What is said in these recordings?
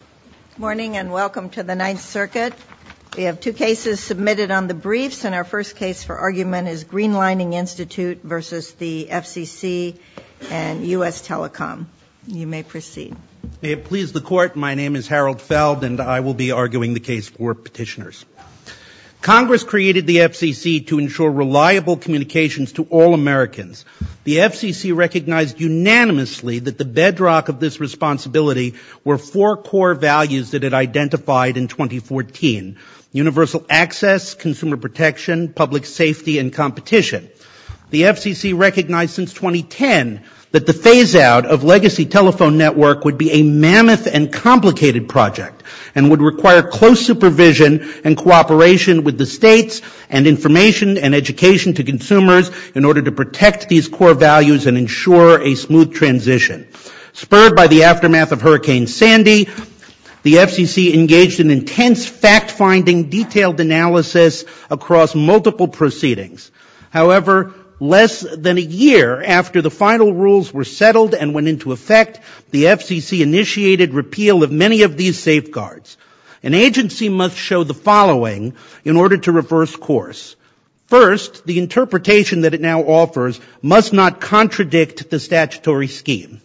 Good morning and welcome to the Ninth Circuit. We have two cases submitted on the briefs, and our first case for argument is Greenlining Institute v. the FCC and U.S. Telecom. You may proceed. May it please the Court, my name is Harold Feld and I will be arguing the case for petitioners. Congress created the FCC to ensure reliable communications to all Americans. The FCC recognized unanimously that the bedrock of this responsibility were four core values that it identified in 2014, universal access, consumer protection, public safety and competition. The FCC recognized since 2010 that the phaseout of legacy telephone network would be a mammoth and complicated project and would require close supervision and cooperation with the states and information and education to consumers in order to protect these core values and ensure a smooth transition. Spurred by the aftermath of Hurricane Sandy, the FCC engaged in intense fact finding, detailed analysis across multiple proceedings. However, less than a year after the final rules were settled and went into effect, the FCC initiated repeal of many of these safeguards. An agency must show the following in order to reverse course. First, the interpretation that it now offers must not contradict the statutory scheme.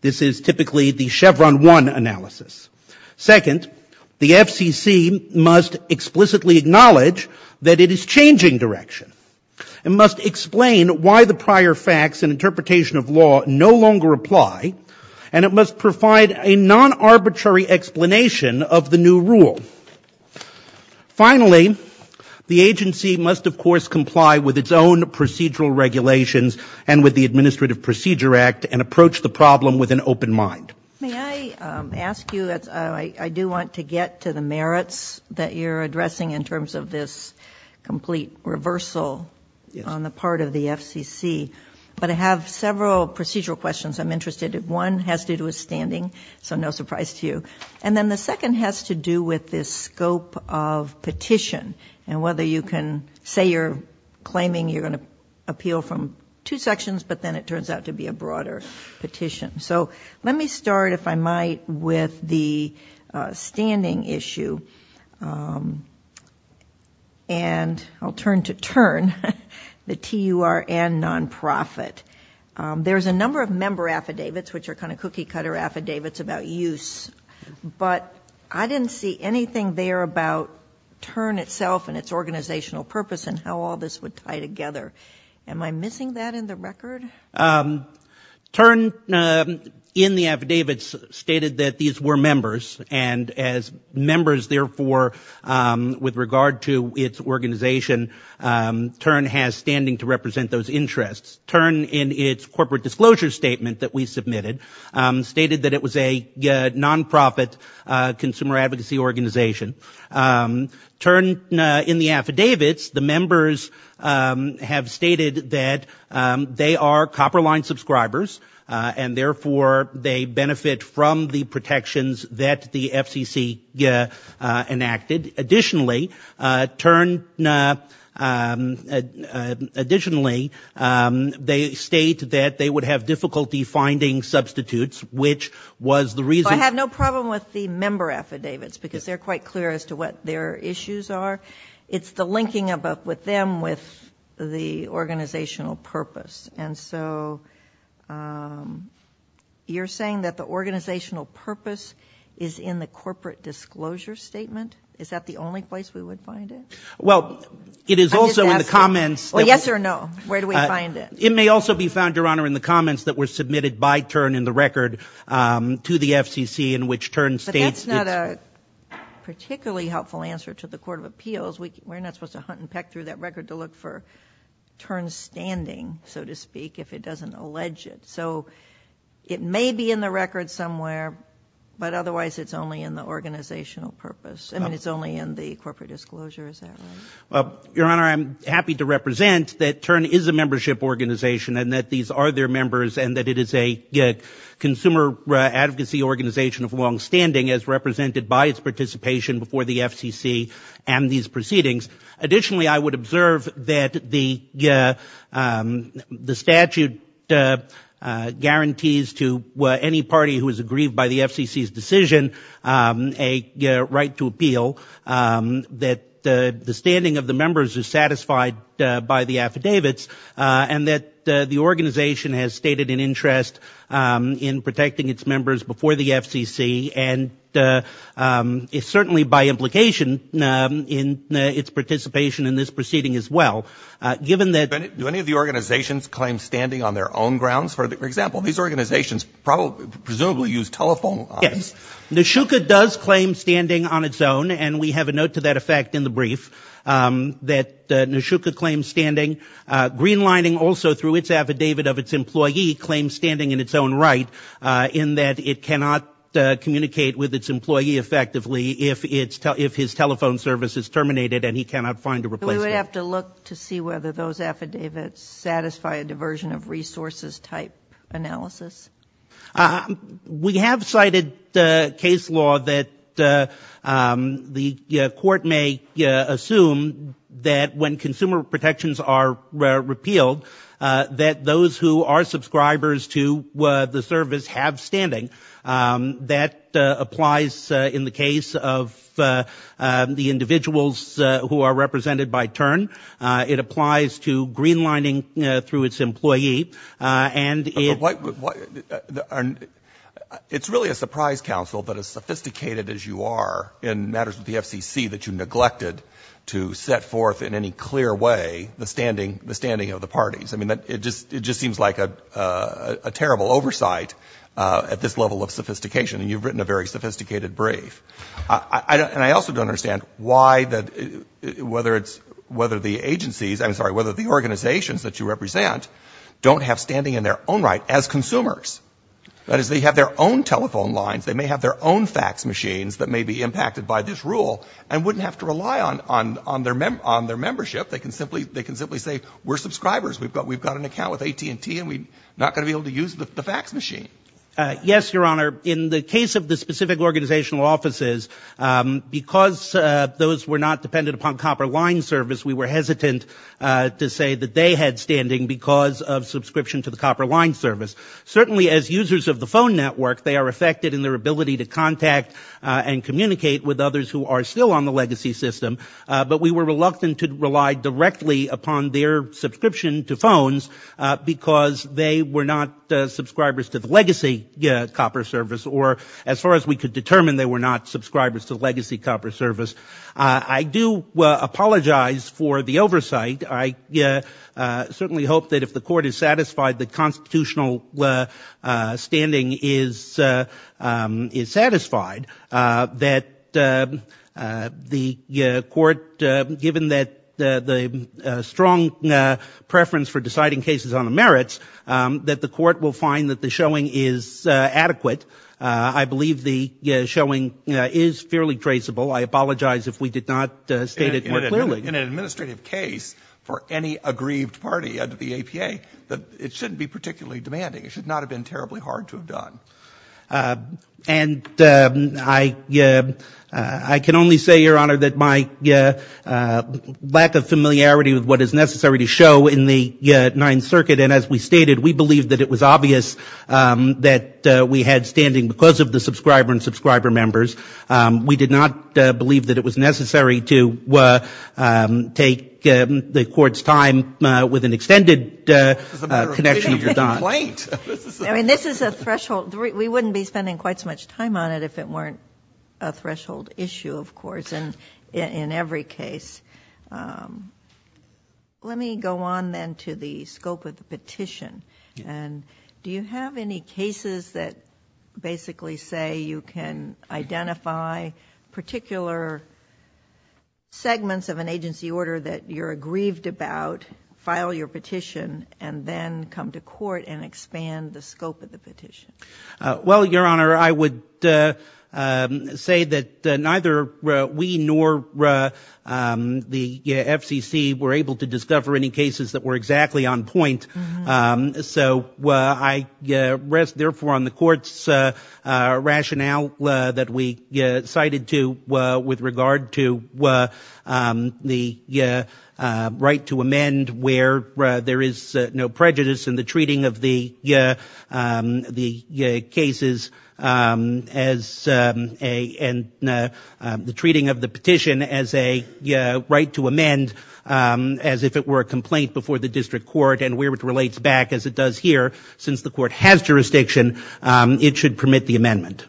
This is typically the Chevron 1 analysis. Second, the FCC must explicitly acknowledge that it is changing direction. It must explain why the prior facts and interpretation of law no longer apply and it must provide a non-arbitrary explanation of the new rule. Finally, the agency must of course comply with its own procedural regulations and with the Administrative Procedure Act and approach the problem with an open mind. May I ask you, I do want to get to the merits that you're addressing in terms of this complete reversal on the part of the FCC. But I have several procedural questions I'm interested in. One has to do with standing, so no surprise to you. And then the second has to do with this scope of petition and whether you can say you're claiming you're going to appeal from two sections but then it turns out to be a broader petition. So let me start, if I might, with the standing issue and I'll turn to TURN, the T-U-R-N non-profit. There's a number of member affidavits which are kind of cookie cutter affidavits about use. But I didn't see anything there about TURN itself and its organizational purpose and how all this would tie together. Am I missing that in the record? TURN in the affidavits stated that these were members and as members, therefore, with regard to its organization, TURN has standing to represent those interests. TURN in its corporate disclosure statement that we submitted stated that it was a non-profit consumer advocacy organization. TURN in the affidavits, the members have stated that they are Copper Line subscribers and therefore they benefit from the protections that the FCC enacted. Additionally, TURN, additionally, they state that they would have difficulty finding substitutes, which was the reason. I have no problem with the member affidavits because they're quite clear as to what their issues are. It's the linking with them with the organizational purpose. And so you're saying that the organizational purpose is in the corporate disclosure statement? Is that the only place we would find it? Well, it is also in the comments. Yes or no? Where do we find it? It may also be found, Your Honor, in the comments that were submitted by TURN in the record to the FCC in which TURN states. But that's not a particularly helpful answer to the Court of Appeals. We're not supposed to hunt and peck through that record to look for TURN's standing, so to speak, if it doesn't allege it. So it may be in the record somewhere, but otherwise it's only in the organizational purpose. I mean, it's only in the corporate disclosure. Is that right? Well, Your Honor, I'm happy to represent that TURN is a membership organization and that these are their members and that it is a consumer advocacy organization of longstanding as represented by its participation before the FCC and these proceedings. Additionally, I would observe that the statute guarantees to any party who is aggrieved by the FCC's decision a right to appeal, that the standing of the members is satisfied by the affidavits, and that the organization has stated an interest in protecting its members before the FCC and is certainly by implication in its participation in this proceeding as well. Do any of the organizations claim standing on their own grounds? For example, these organizations presumably use telephone lines. Yes. Neshuka does claim standing on its own, and we have a note to that effect in the brief that Neshuka claims standing. Greenlining also, through its affidavit of its employee, claims standing in its own right in that it cannot communicate with its employee effectively if his telephone service is terminated and he cannot find a replacement. We would have to look to see whether those affidavits satisfy a diversion of resources type analysis. We have cited case law that the court may assume that when consumer protections are repealed, that those who are subscribers to the service have standing. That applies in the case of the individuals who are represented by TURN. It applies to greenlining through its employee. It's really a surprise, counsel, that as sophisticated as you are in matters with the FCC, that you neglected to set forth in any clear way the standing of the parties. It just seems like a terrible oversight at this level of sophistication, and you've written a very sophisticated brief. And I also don't understand why that, whether it's, whether the agencies, I'm sorry, whether the organizations that you represent don't have standing in their own right as consumers. That is, they have their own telephone lines, they may have their own fax machines that may be impacted by this rule and wouldn't have to rely on their membership. They can simply say, we're subscribers, we've got an account with AT&T, and we're not going to be able to use the fax machine. Yes, Your Honor, in the case of the specific organizational offices, because those were not dependent upon Copper Line service, we were hesitant to say that they had standing because of subscription to the Copper Line service. Certainly as users of the phone network, they are affected in their ability to contact and communicate with others who are still on the legacy system. But we were reluctant to rely directly upon their subscription to phones because they were not subscribers to the legacy copper service, or as far as we could determine, they were not subscribers to the legacy copper service. I do apologize for the oversight. I certainly hope that if the court is satisfied that constitutional standing is satisfied, that the court, given the strong preference for deciding cases on the merits, that the court will find that the showing is adequate. I believe the showing is fairly traceable. I apologize if we did not state it more clearly. In an administrative case for any aggrieved party under the APA, it shouldn't be particularly demanding. It should not have been terribly hard to have done. And I can only say, Your Honor, that my lack of familiarity with what is necessary to show in the Ninth Circuit, and as we stated, we believe that it was obvious that we had standing because of the subscriber and subscriber members. We did not believe that it was necessary to take the court's time with an extended connection of complaint. I mean, this is a threshold. We wouldn't be spending quite so much time on it if it weren't a threshold issue, of course, in every case. Let me go on then to the scope of the petition. And do you have any cases that basically say you can identify particular segments of an agency order that you're aggrieved about, file your petition, and then come to court and expand the scope of the petition? Well, Your Honor, I would say that neither we nor the FCC were able to discover any cases that were exactly on point. So I rest, therefore, on the court's rationale that we cited with regard to the right to amend where there is no prejudice in the treating of the cases and the treating of the petition as a right to amend as if it were a complaint before the district court and where it relates back as it does here. Since the court has jurisdiction, it should permit the amendment.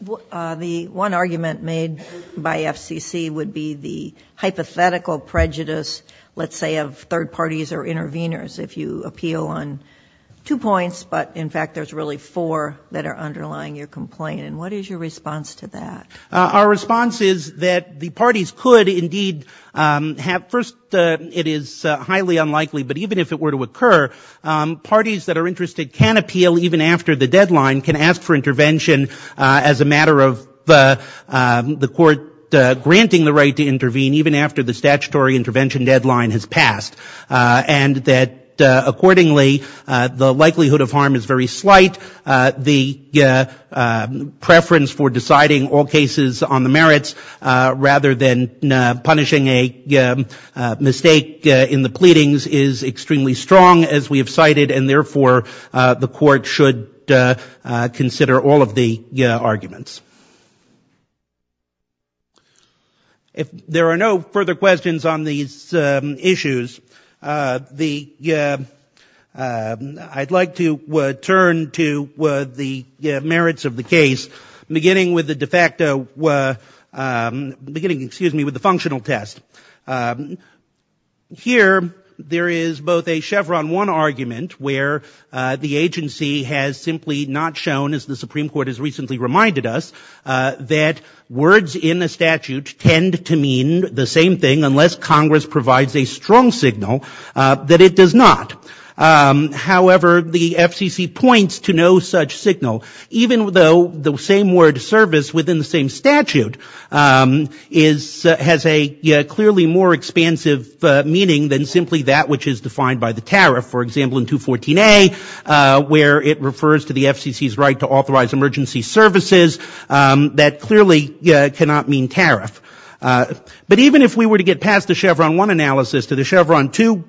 The one argument made by FCC would be the hypothetical prejudice, let's say, of third parties or interveners if you appeal on two points, but in fact there's really four that are underlying your complaint. And what is your response to that? Our response is that the parties could indeed have — first, it is highly unlikely, but even if it were to occur, parties that are interested can appeal even after the deadline, can ask for intervention as a matter of the court granting the right to intervene even after the statutory intervention deadline has passed, and that accordingly the likelihood of harm is very slight. The preference for deciding all cases on the merits rather than punishing a mistake in the pleadings is extremely strong, as we have cited, and therefore the court should consider all of the arguments. If there are no further questions on these issues, I'd like to turn to the merits of the case beginning with the de facto — beginning, excuse me, with the functional test. Here there is both a Chevron 1 argument where the agency has simply not shown, as the Supreme Court has recently reminded us, that words in the statute tend to mean the same thing unless Congress provides a strong signal that it does not. However, the FCC points to no such signal, even though the same word service within the same statute has a clearly more expansive meaning than simply that which is defined by the tariff. For example, in 214A, where it refers to the FCC's right to authorize emergency services, that clearly cannot mean tariff. But even if we were to get past the Chevron 1 analysis to the Chevron 2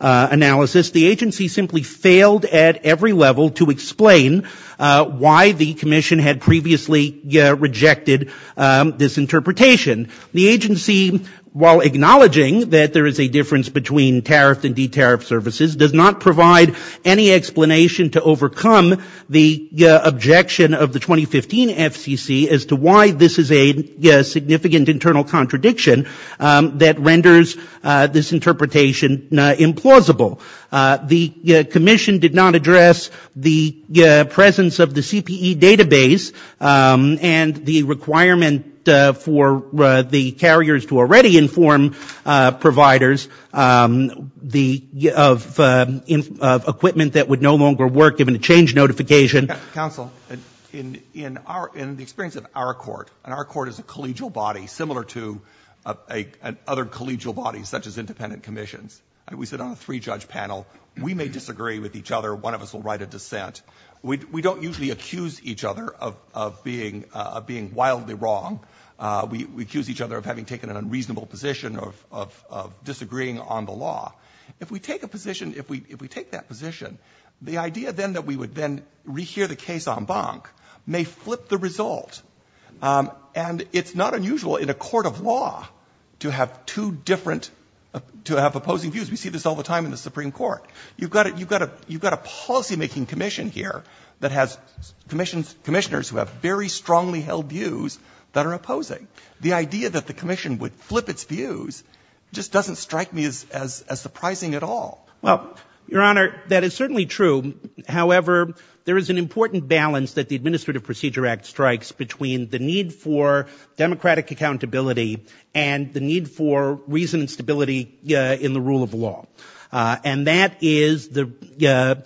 analysis, the agency simply failed at every level to explain why the commission had previously rejected this interpretation. The agency, while acknowledging that there is a difference between tariffed and de-tariffed services, does not provide any explanation to overcome the objection of the 2015 FCC as to why this is a significant internal contradiction that renders this interpretation implausible. The commission did not address the presence of the CPE database and the requirement for the carriers to already inform providers of equipment that would no longer work given a change notification. Counsel, in the experience of our court, and our court is a collegial body similar to other collegial bodies such as independent commissions, we sit on a three-judge panel. We may disagree with each other. One of us will write a dissent. We don't usually accuse each other of being wildly wrong. We accuse each other of having taken an unreasonable position of disagreeing on the law. If we take that position, the idea then that we would then rehear the case en banc may flip the result. And it's not unusual in a court of law to have opposing views. We see this all the time in the Supreme Court. You've got a policymaking commission here that has commissioners who have very strongly held views that are opposing. The idea that the commission would flip its views just doesn't strike me as surprising at all. Well, Your Honor, that is certainly true. However, there is an important balance that the Administrative Procedure Act strikes between the need for democratic accountability and the need for reason and stability in the rule of law. And that is the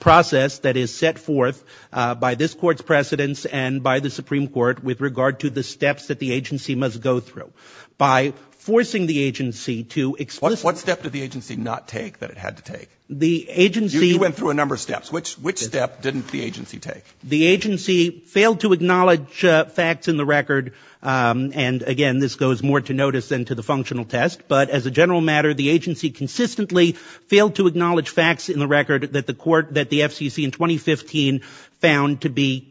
process that is set forth by this Court's precedents and by the Supreme Court with regard to the steps that the agency must go through. By forcing the agency to explicitly... What step did the agency not take that it had to take? The agency... You went through a number of steps. Which step didn't the agency take? The agency failed to acknowledge facts in the record. And, again, this goes more to notice than to the functional test. But as a general matter, the agency consistently failed to acknowledge facts in the record that the FCC in 2015 found to be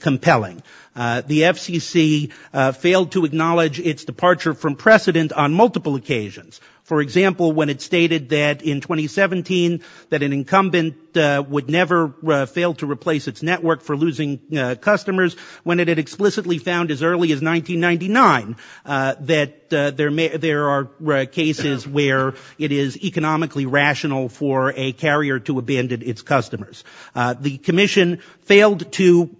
compelling. The FCC failed to acknowledge its departure from precedent on multiple occasions. For example, when it stated that in 2017 that an incumbent would never fail to replace its network for losing customers, when it had explicitly found as early as 1999 that there are cases where it is economically rational for a carrier to abandon its customers. The Commission failed to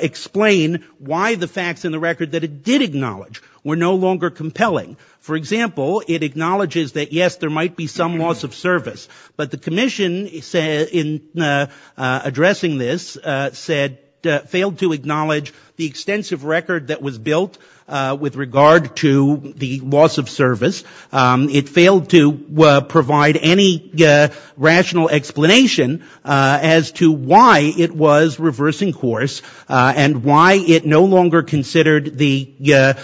explain why the facts in the record that it did acknowledge were no longer compelling. For example, it acknowledges that, yes, there might be some loss of service. But the Commission, in addressing this, said, failed to acknowledge the extensive record that was built with regard to the loss of service. It failed to provide any rational explanation as to why it was reversing course and why it no longer considered the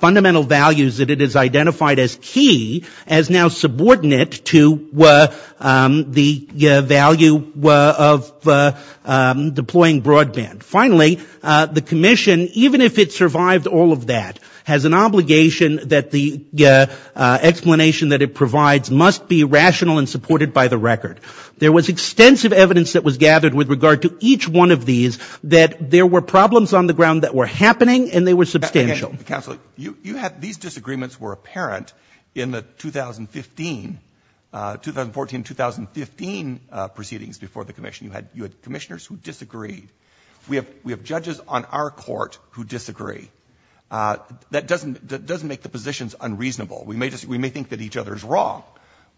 fundamental values that it has identified as key as now subordinate to the value of deploying broadband. Finally, the Commission, even if it survived all of that, has an obligation that the explanation that it provides must be rational and supported by the record. There was extensive evidence that was gathered with regard to each one of these that there were problems on the ground that were happening and they were substantial. These disagreements were apparent in the 2014-2015 proceedings before the Commission. You had commissioners who disagreed. We have judges on our court who disagree. That doesn't make the positions unreasonable. We may think that each other is wrong,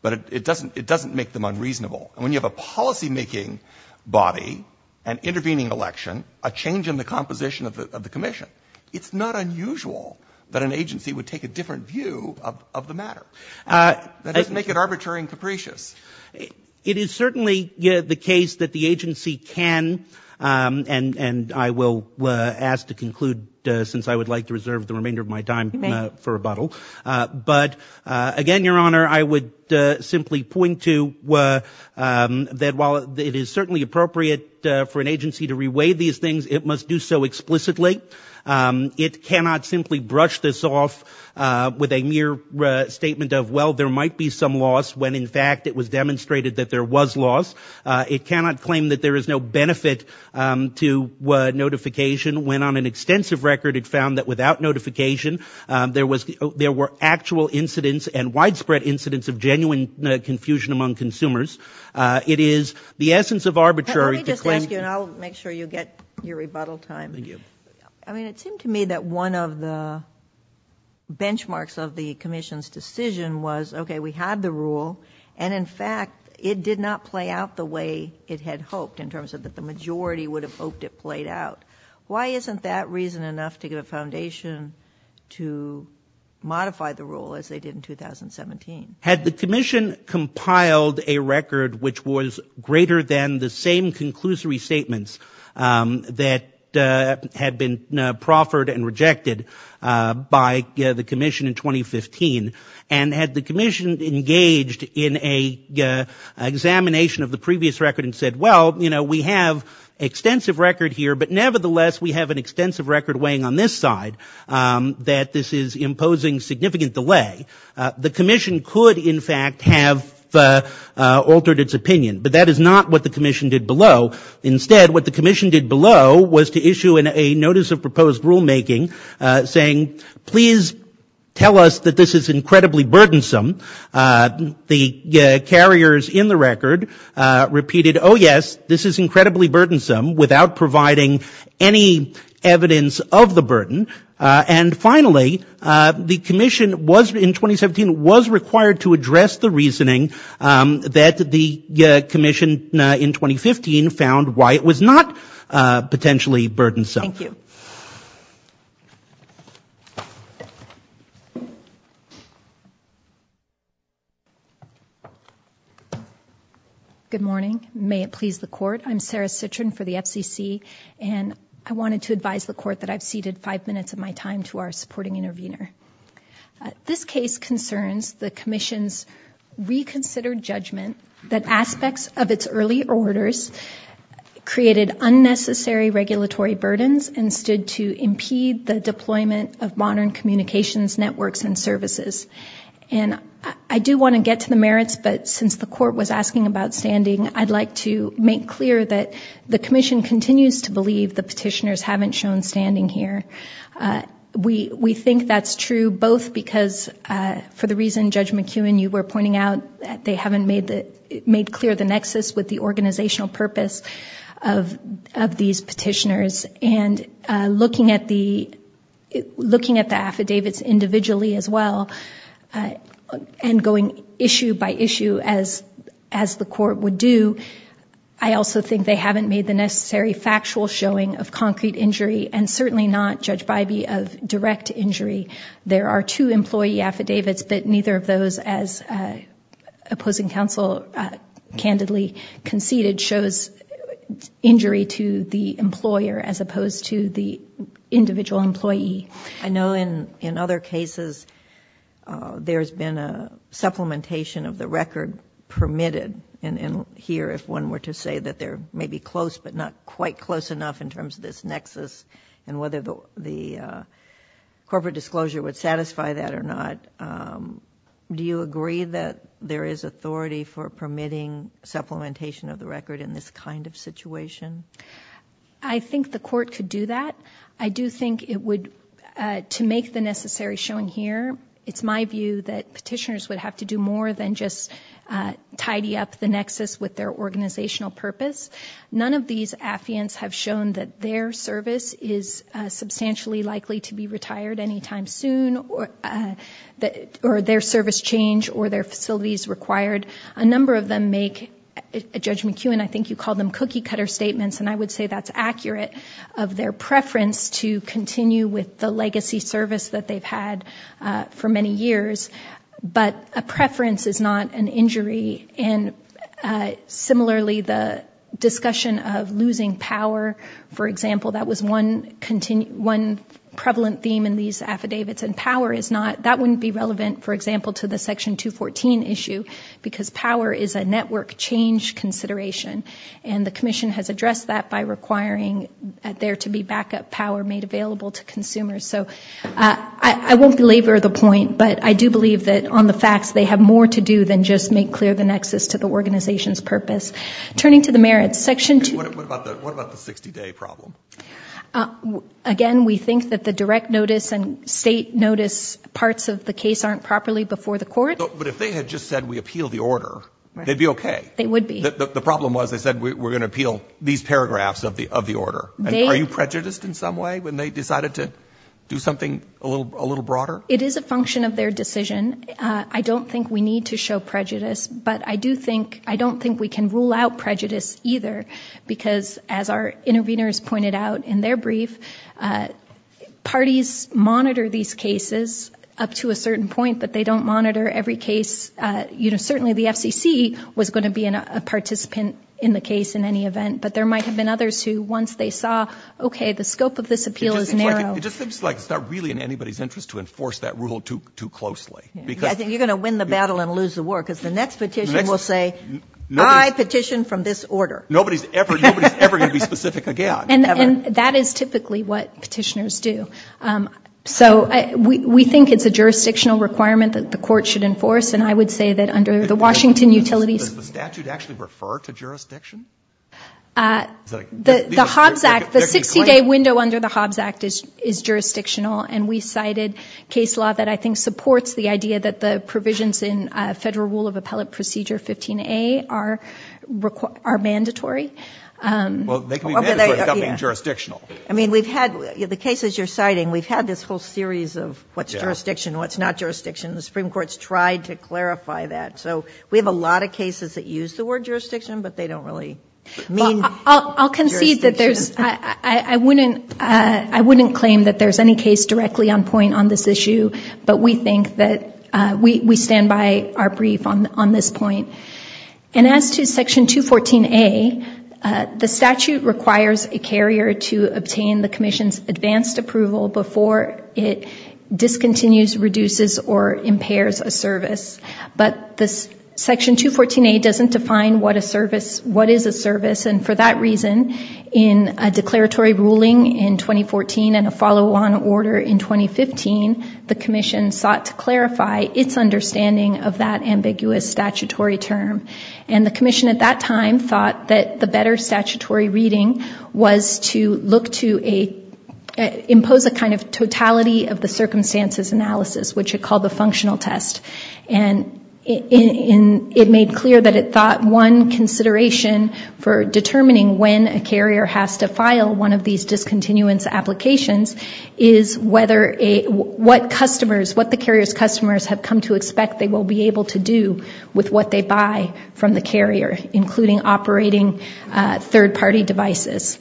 but it doesn't make them unreasonable. When you have a policymaking body and intervening election, a change in the composition of the Commission, it's not unusual that an agency would take a different view of the matter. That doesn't make it arbitrary and capricious. It is certainly the case that the agency can and I will ask to conclude since I would like to reserve the remainder of my time for rebuttal. But again, Your Honor, I would simply point to that while it is certainly appropriate for an agency to reweigh these things, it must do so explicitly. It cannot simply brush this off with a mere statement of well, there might be some loss when in fact it was demonstrated that there was loss. It cannot claim that there is no benefit to notification when on an extensive record it found that without notification there were actual incidents and widespread incidents of genuine confusion among consumers. It is the essence of arbitrary to claim... Let me just ask you and I'll make sure you get your rebuttal time. It seemed to me that one of the benchmarks of the Commission's decision was okay, we had the rule and in fact it did not play out the way it had hoped in terms of that the majority would have hoped it played out. Why isn't that reason enough to give a foundation to modify the rule as they did in 2017? Had the Commission compiled a record which was greater than the same conclusory statements that had been proffered and rejected by the Commission in 2015 and had the Commission engaged in an examination of the previous record and said well, you know, we have extensive record here but nevertheless we have an extensive record weighing on this side that this is imposing significant delay. The Commission could in fact have altered its opinion but that is not what the Commission did below. Instead what the Commission did below was to issue a notice of proposed rulemaking saying please tell us that this is incredibly burdensome. The carriers in the record repeated oh yes, this is incredibly burdensome without providing any evidence of the burden and finally the Commission in 2017 was required to address the reasoning that the Commission in 2015 found why it was not potentially burdensome. Thank you. Good morning. May it please the Court. I'm Sarah Citrin for the FCC and I wanted to advise the Court that I've ceded five minutes of my time to our supporting intervener. This case concerns the Commission's reconsidered judgment that aspects of its early orders created unnecessary regulatory burdens and stood to impede the deployment of modern communications networks and services. And I do want to get to the merits but since the Court was asking about standing I'd like to make clear that the Commission continues to believe the petitioners haven't shown standing here. We think that's true both because for the reason Judge McEwen, you were pointing out that they haven't made clear the nexus with the organizational purpose of these petitioners and looking at the affidavits individually as well and going issue by issue as the Court would do, I also think they haven't made the necessary factual showing of concrete injury and certainly not, Judge Bybee, of direct injury. There are two employee affidavits but neither of those, as opposing counsel candidly conceded, shows injury to the employer as opposed to the individual employee. I know in other cases there's been a supplementation of the record permitted and here if one were to say that they're maybe close but not quite close enough in terms of this nexus and whether the corporate disclosure would satisfy that or not, do you agree that there is authority for permitting supplementation of the record in this kind of situation? I think the Court could do that. I do think it would, to make the necessary showing here, it's my view that petitioners would have to do more than just tidy up the nexus with their organizational purpose. None of these affiants have shown that their service is substantially likely to be retired any time soon or their service change or their facilities required. A number of them make, Judge McKeown, I think you called them cookie cutter statements and I would say that's accurate of their preference to continue with the legacy service that they've had for many years but a preference is not an injury and similarly the discussion of losing power, for example, that was one prevalent theme in these affidavits and power is not, that wouldn't be relevant, for example, to the Section 214 issue because power is a network change consideration and the Commission has addressed that by requiring there to be backup power made available to consumers. So I won't belabor the point but I do believe that on the facts they have more to do than just make clear the nexus to the organization's purpose. Turning to the merits, Section 2. What about the 60-day problem? Again, we think that the direct notice and state notice parts of the case aren't properly before the court. But if they had just said we appeal the order, they'd be okay. They would be. The problem was they said we're going to appeal these paragraphs of the order. Are you prejudiced in some way when they decided to do something a little broader? It is a function of their decision. I don't think we need to show prejudice. But I do think, I don't think we can rule out prejudice either because as our interveners pointed out in their brief, parties monitor these cases up to a certain point but they don't monitor every case. You know, certainly the FCC was going to be a participant in the case in any event. But there might have been others who once they saw, okay, the scope of this appeal is narrow. It just seems like it's not really in anybody's interest to enforce that rule too closely. I think you're going to win the battle and lose the war because the next petition will say I petition from this order. Nobody's ever going to be specific again. And that is typically what petitioners do. So we think it's a jurisdictional requirement that the court should enforce and I would say that under the Washington Utilities. Does the statute actually refer to jurisdiction? The Hobbs Act, the 60-day window under the Hobbs Act is jurisdictional and we cited case law that I think supports the idea that the provisions in Federal Rule of Appellate Procedure 15A are mandatory. Well, they can be mandatory without being jurisdictional. I mean, we've had, the cases you're citing, we've had this whole series of what's jurisdiction, what's not jurisdiction. The Supreme Court's tried to clarify that. So we have a lot of cases that use the word jurisdiction but they don't really mean jurisdiction. I'll concede that there's, I wouldn't claim that there's any case directly on point on this issue but we think that we stand by our brief on this point. And as to Section 214A, the statute requires a carrier to obtain the commission's advanced approval before it discontinues, reduces or impairs a service. But this Section 214A doesn't define what a service, what is a service and for that reason in a declaratory ruling in 2014 and a follow-on order in 2015, the commission sought to clarify its understanding of that ambiguous statutory term. And the commission at that time thought that the better statutory reading was to look to a, impose a kind of totality of the circumstances analysis which it called the functional test. And it made clear that it thought one consideration for determining when a carrier has to file one of these discontinuance applications is whether a, what customers, what the carrier's customers have come to expect they will be able to do with what they buy from the carrier including operating third party devices.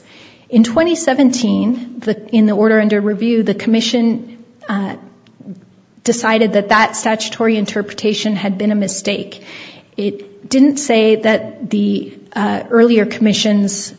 In 2017, in the order under review, the commission decided that that statutory interpretation had been a mistake. It didn't say that the earlier commission's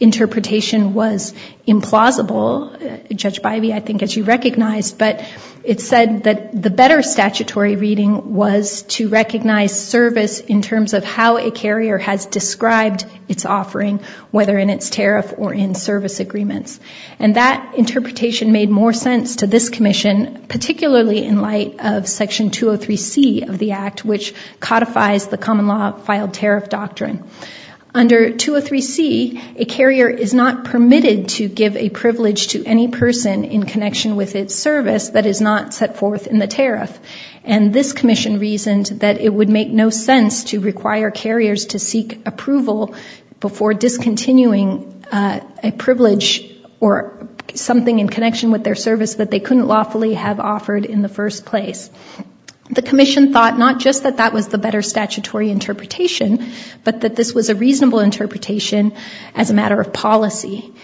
interpretation was implausible, Judge Bivey, I think as you recognize, but it said that the better statutory reading was to recognize service in terms of how a carrier has described its offering, whether in its tariff or in service agreements. And that interpretation made more sense to this commission, particularly in light of Section 203C of the Act which codifies the common law filed tariff doctrine. Under 203C, a carrier is not permitted to give a privilege to any person in connection with its service that is not set forth in the tariff. And this commission reasoned that it would make no sense to require carriers to seek approval before discontinuing a privilege or something in connection with their service that they couldn't lawfully have offered in the first place. The commission thought not just that that was the better statutory interpretation, but that this was a reasonable interpretation as a matter of policy.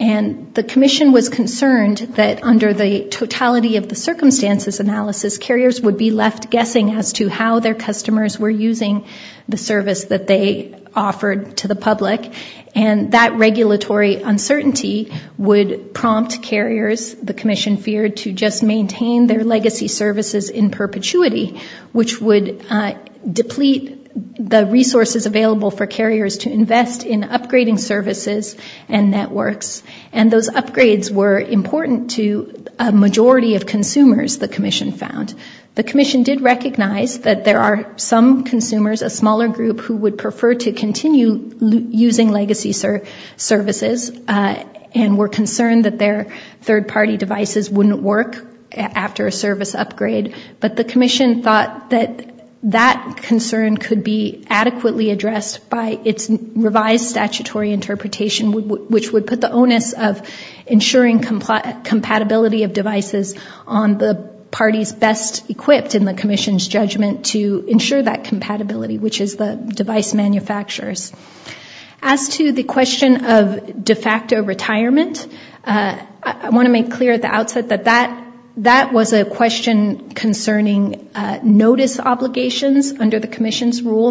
And the commission was concerned that under the totality of the circumstances analysis, carriers would be left guessing as to how their customers were using the service that they offered to the public. And that regulatory uncertainty would prompt carriers, the commission feared, to just maintain their legacy services in perpetuity, which would deplete the resources available for carriers to invest in upgrading services and networks. And those upgrades were important to a majority of consumers, the commission found. The commission did recognize that there are some consumers, a smaller group, who would prefer to continue using legacy services and were concerned that their third-party devices wouldn't work after a service upgrade. But the commission thought that that concern could be adequately addressed by its revised statutory interpretation, which would put the onus of ensuring compatibility of devices on the parties best equipped in the commission's judgment to ensure that compatibility, which is the device manufacturers. I want to make clear at the outset that that was a question concerning notice obligations under the commission's rule.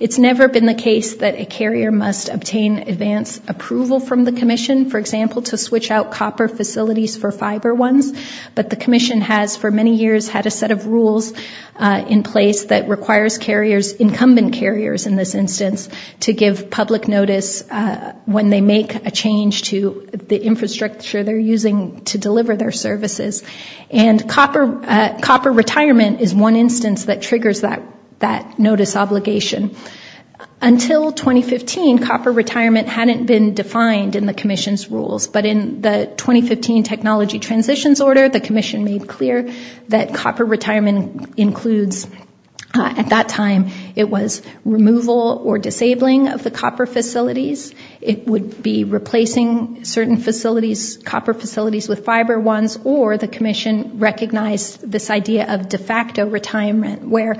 It's never been the case that a carrier must obtain advance approval from the commission, for example, to switch out copper facilities for fiber ones. But the commission has, for many years, had a set of rules in place that requires carriers, incumbent carriers in this instance, to give public notice when they make a change to the infrastructure they're using to deliver their services. And copper retirement is one instance that triggers that notice obligation. Until 2015, copper retirement hadn't been defined in the commission's rules. But in the 2015 technology transitions order, the commission made clear that copper retirement includes, at that time, it was removal or disabling of the copper facilities. It would be replacing certain facilities with fiber ones, or the commission recognized this idea of de facto retirement, where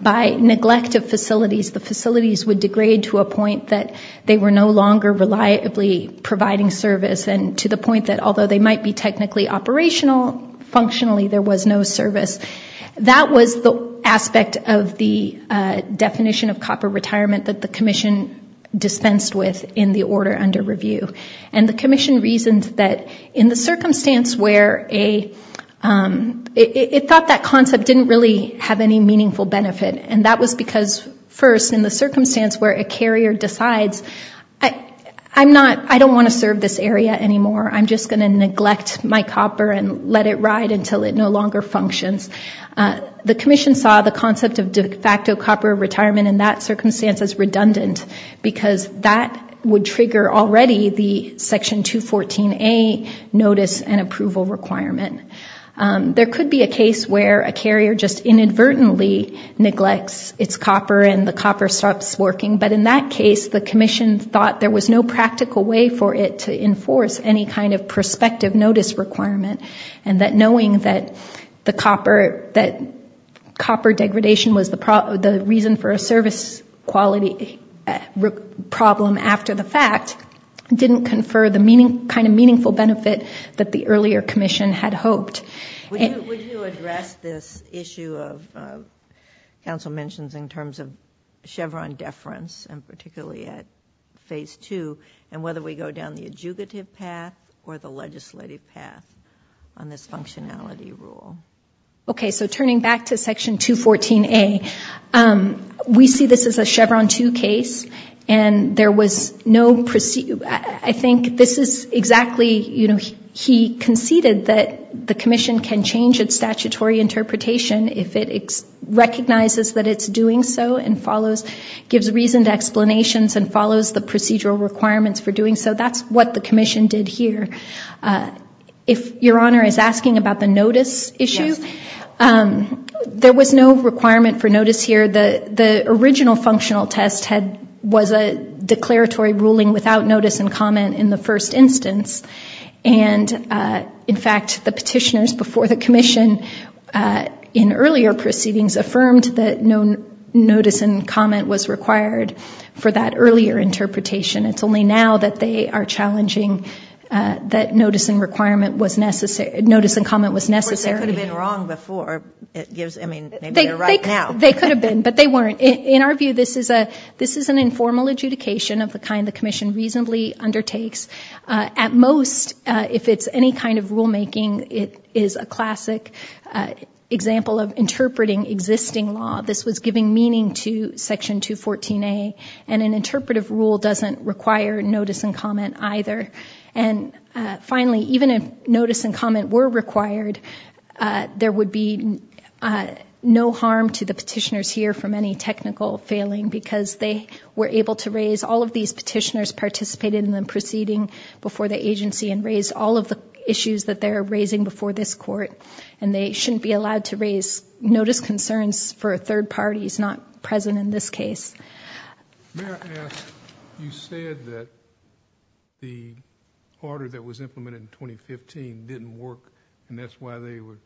by neglect of facilities, the facilities would degrade to a point that they were no longer reliably providing service, and to the point that, although they might be technically operational, functionally there was no service. That was the aspect of the definition of copper retirement that the commission dispensed with in the order under review. And the commission reasoned that in the circumstance where a, it thought that concept didn't really have any meaningful benefit, and that was because, first, in the circumstance where a carrier decides, I'm not, I don't want to serve this area anymore, I'm just going to neglect my copper and let it ride until it no longer functions. The commission saw the concept of de facto copper retirement in that circumstance as redundant, because that would trigger already the section 214A notice and approval requirement. There could be a case where a carrier just inadvertently neglects its copper and the copper stops working, but in that case the commission thought there was no practical way for it to enforce any kind of prospective notice requirement, and that knowing that the copper, that copper degradation was the reason for a service quality problem after the fact, didn't confer the kind of meaningful benefit that the earlier commission had hoped. Would you address this issue of, counsel mentions in terms of Chevron deference, and particularly at phase two, and whether we go down the adjugative path or the legislative path on this functionality rule? Okay, so turning back to section 214A, we see this as a Chevron 2 case, and there was no, I think this is exactly, you know, he conceded that the commission can change its statutory interpretation if it recognizes that it's doing so and follows, gives reasoned explanations and follows the procedural requirements for doing so. That's what the commission did here. If Your Honor is asking about the notice issue, there was no requirement for notice here. The original functional test had, was a declaratory ruling without notice and comment in the first instance, and in fact, the petitioners before the commission in earlier proceedings affirmed that no notice and comment was required for that earlier interpretation. It's only now that they are challenging that notice and requirement was necessary, notice and comment was necessary. They could have been wrong before. I mean, maybe they're right now. They could have been, but they weren't. In our view, this is an informal adjudication of the kind the commission reasonably undertakes. At most, if it's any kind of rulemaking, it is a classic example of interpreting existing law. This was giving meaning to section 214A, and an interpretive rule doesn't require notice and comment either. And finally, even if notice and comment were required, there would be no harm to the petitioners here from any technical failing, because they were able to raise, all of these petitioners participated in the proceeding before the agency and raised all of the issues that they're raising before this court, and they shouldn't be allowed to raise notice concerns for third parties not present in this case. May I ask, you said that the order that was implemented in 2015 didn't work, and that's why they were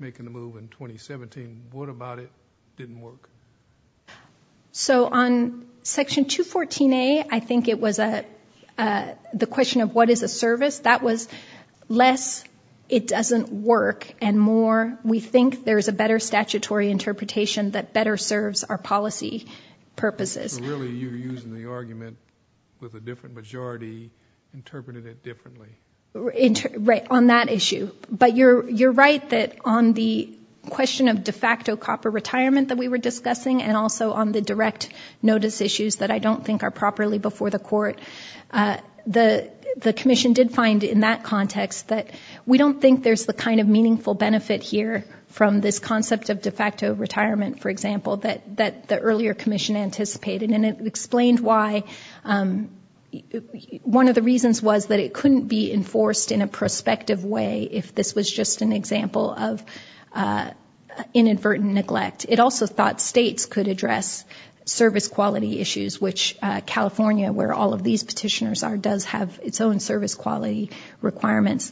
making the move in 2017. What about it didn't work? So on section 214A, I think it was the question of what is a service. That was less, it doesn't work, and more, we think there's a better statutory interpretation that better serves our policy purposes. So really, you're using the argument with a different majority, interpreting it differently. Right, on that issue. But you're right that on the question of de facto copper retirement that we were discussing, and also on the direct notice issues that I don't think are properly before the court, the commission did find in that context that we don't think there's the kind of meaningful benefit here from this concept of de facto retirement, for example, that the earlier commission anticipated, and it explained why. One of the reasons was that it couldn't be enforced in a prospective way if this was just an example of inadvertent neglect. It also thought states could address service quality issues, which California, where all of these petitioners are, does have its own service quality requirements.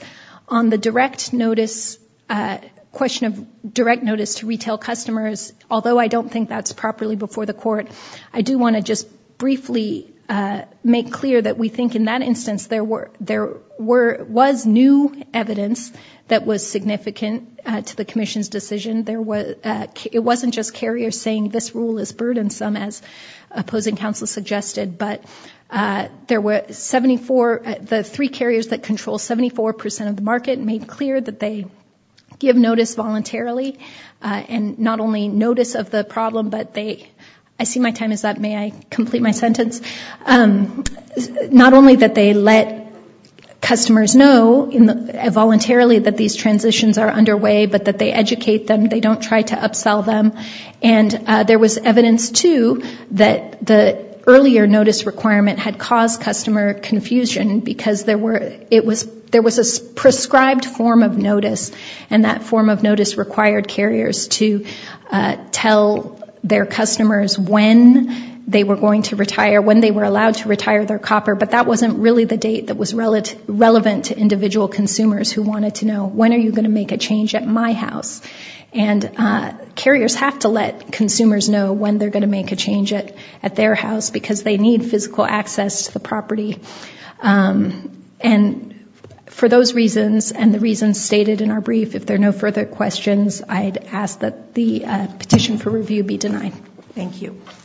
On the direct notice, question of direct notice to retail customers, although I don't think that's properly before the court, I do want to just briefly make clear that we think in that instance there was new evidence that was significant to the commission's decision. It wasn't just carriers saying this rule is burdensome, as opposing counsel suggested, but the three carriers that control 74% of the market made clear that they give notice voluntarily, and not only notice of the problem, may I complete my sentence? Not only that they let customers know, voluntarily, that these transitions are underway, but that they educate them, they don't try to upsell them, and there was evidence, too, that the earlier notice requirement had caused customer confusion, because there was a prescribed form of notice, to tell their customers when they were going to retire, when they were allowed to retire their copper, but that wasn't really the date that was relevant to individual consumers who wanted to know, when are you going to make a change at my house? And carriers have to let consumers know when they're going to make a change at their house, because they need physical access to the property. And for those reasons, and the reasons stated in our brief, if there are no further questions, I'd ask that the petition for review be denied. Thank you. Thank you.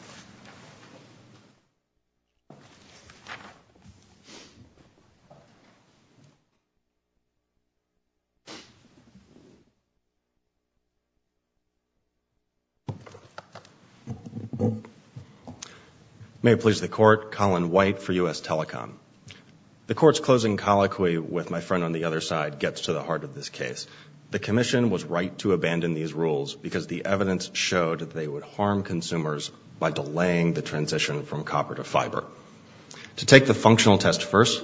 May it please the Court, Colin White for U.S. Telecom. The Court's closing colloquy with my friend on the other side gets to the heart of this case. The Commission was right to abandon these rules because the evidence showed that they would harm consumers by delaying the transition from copper to fiber. To take the functional test first,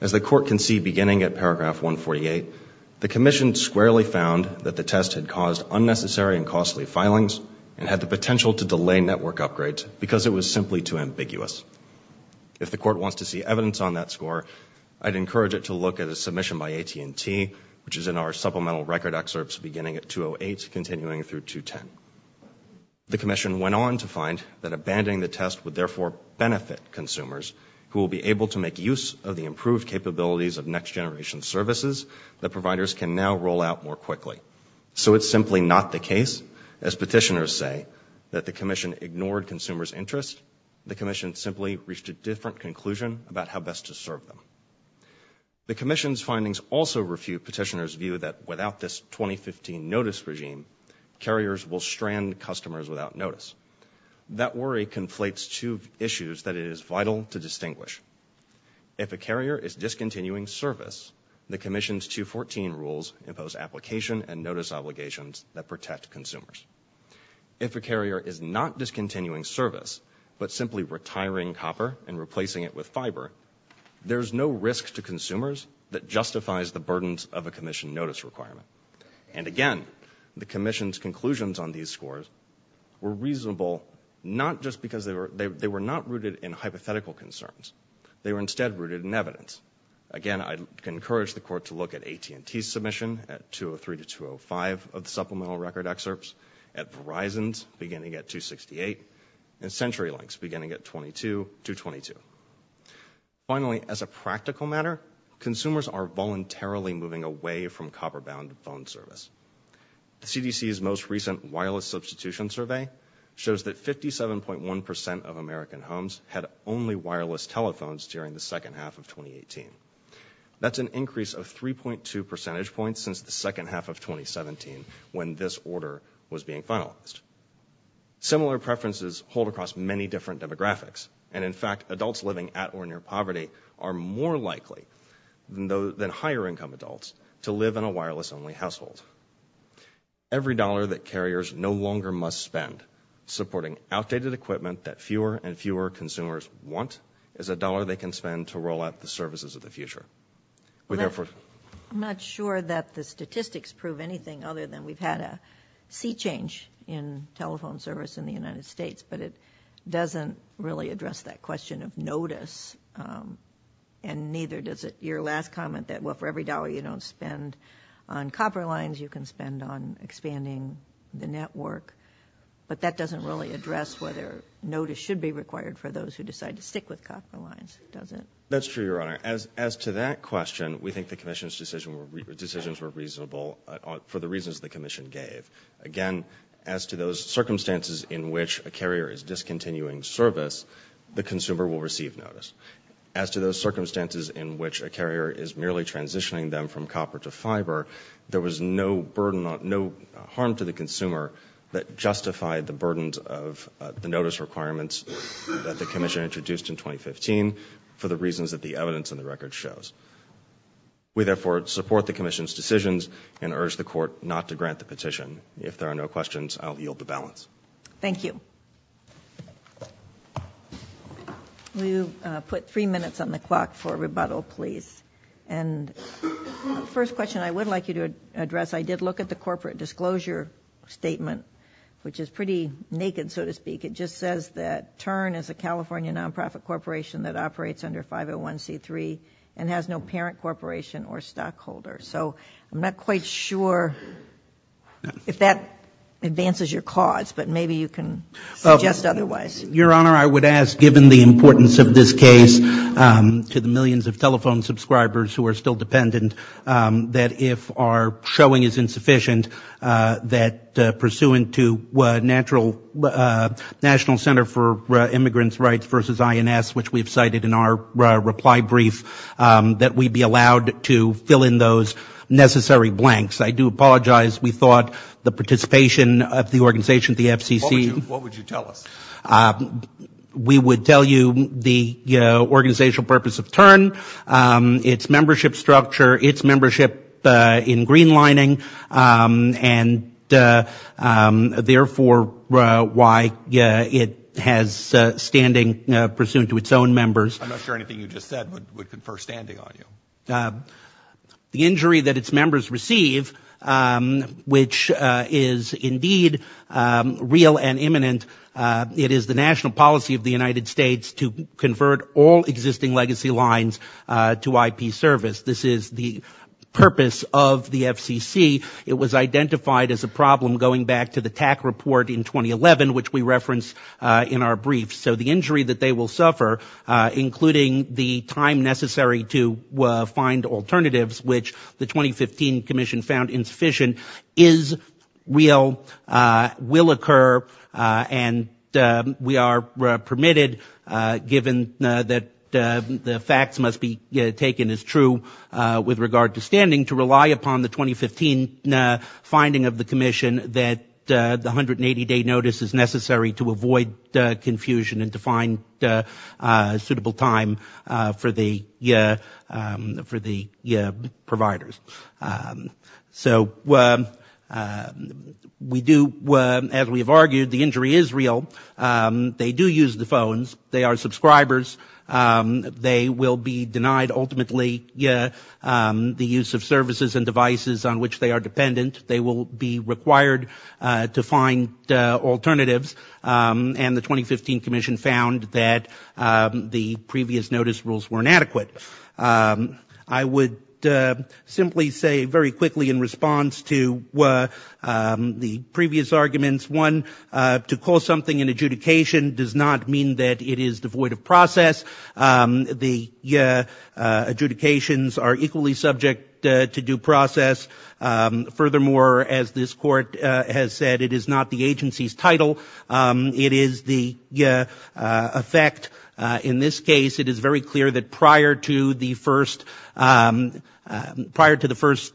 as the Court can see beginning at paragraph 148, the Commission squarely found that the test had caused unnecessary and costly filings and had the potential to delay network upgrades because it was simply too ambiguous. If the Court wants to see evidence on that score, I'd encourage it to look at a submission by AT&T, which is in our supplemental record excerpts beginning at 208, continuing through 210. The Commission went on to find that abandoning the test would therefore benefit consumers who will be able to make use of the improved capabilities of next-generation services that providers can now roll out more quickly. So it's simply not the case, as petitioners say, that the Commission ignored consumers' interest. The Commission simply reached a different conclusion about how best to serve them. The Commission's findings also refute petitioners' view that without this 2015 notice regime, carriers will strand customers without notice. That worry conflates two issues that it is vital to distinguish. If a carrier is discontinuing service, the Commission's 214 rules impose application and notice obligations that protect consumers. If a carrier is not discontinuing service, but simply retiring copper and replacing it with fiber, there's no risk to consumers that justifies the burdens of a Commission notice requirement. And again, the Commission's conclusions on these scores were reasonable not just because they were not rooted in hypothetical concerns. They were instead rooted in evidence. Again, I'd encourage the Court to look at AT&T's submission at 203 to 205 of the supplemental record excerpts, at Verizon's beginning at 268, and CenturyLink's beginning at 22 to 22. Finally, as a practical matter, consumers are voluntarily moving away from copper-bound phone service. The CDC's most recent wireless substitution survey shows that 57.1% of American homes had only wireless telephones during the second half of 2018. That's an increase of 3.2 percentage points since the second half of 2017, when this order was being finalized. Similar preferences hold across many different demographics, and in fact, adults living at or near poverty are more likely than higher-income adults to live in a wireless-only household. Every dollar that carriers no longer must spend supporting outdated equipment that fewer and fewer consumers want is a dollar they can spend to roll out the services of the future. I'm not sure that the statistics prove anything other than we've had a sea change in telephone service in the United States, but it doesn't really address that question of notice, and neither does your last comment that, well, for every dollar you don't spend on copper lines, you can spend on expanding the network, but that doesn't really address whether notice should be required for those who decide to stick with copper lines, does it? That's true, Your Honor. As to that question, we think the Commission's decisions were reasonable for the reasons the Commission gave. Again, as to those circumstances in which a carrier is discontinuing service, the consumer will receive notice. As to those circumstances in which a carrier is merely transitioning them from copper to fiber, there was no harm to the consumer that justified the burdens of the notice requirements that the Commission introduced in 2015 for the reasons that the evidence in the record shows. We therefore support the Commission's decisions and urge the Court not to grant the petition. If there are no questions, I'll yield the balance. Thank you. Will you put three minutes on the clock for rebuttal, please? And the first question I would like you to address, I did look at the corporate disclosure statement, which is pretty naked, so to speak. It just says that Tern is a California nonprofit corporation that operates under 501c3 and has no parent corporation or stockholder. So I'm not quite sure if that advances your cause, but maybe you can suggest otherwise. Your Honor, I would ask, given the importance of this case to the millions of telephone subscribers who are still dependent, that if our showing is insufficient, that pursuant to National Center for Immigrants' Rights vs. INS, which we have cited in our reply brief, that we be allowed to fill in those necessary blanks. I do apologize. We thought the participation of the organization, the FCC... What would you tell us? We would tell you the organizational purpose of Tern, its membership structure, its membership in green lining, and therefore why it has standing pursuant to its own members. I'm not sure anything you just said would confer standing on you. The injury that its members receive which is indeed real and imminent, it is the national policy of the United States to convert all existing legacy lines to IP service. This is the purpose of the FCC. It was identified as a problem going back to the TAC report in 2011, which we reference in our brief. So the injury that they will suffer, including the time necessary to find alternatives, which the 2015 commission found insufficient, is real, will occur, and we are permitted, given that the facts must be taken as true with regard to standing, to rely upon the 2015 finding of the commission that the 180-day notice is necessary to avoid confusion and to find suitable time for the providers. So we do, as we have argued, the injury is real. They do use the phones. They are subscribers. They will be denied ultimately the use of services and devices on which they are dependent. They will be required to find alternatives, and the 2015 commission found that the previous notice rules were inadequate. I would simply say very quickly in response to the previous arguments, one, to call something an adjudication does not mean that it is devoid of process. The adjudications are equally subject to due process. Furthermore, as this court has said, it is not the agency's title. It is the effect. In this case, it is very clear that prior to the first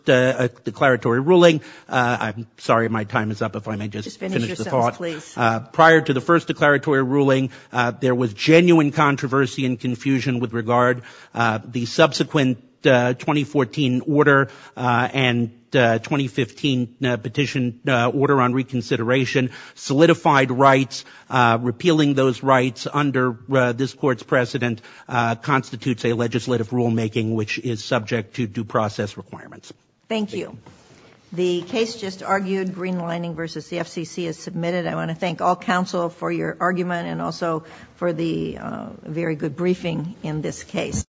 declaratory ruling, I'm sorry, my time is up. If I may just finish the thought. Prior to the first declaratory ruling, there was genuine controversy and confusion with regard the subsequent 2014 order and 2015 petition order on reconsideration, solidified rights, repealing those rights under this court's precedent constitutes a legislative rulemaking which is subject to due process requirements. Thank you. The case just argued, Greenlining v. the FCC, is submitted. I want to thank all counsel for your argument and also for the very good briefing in this case.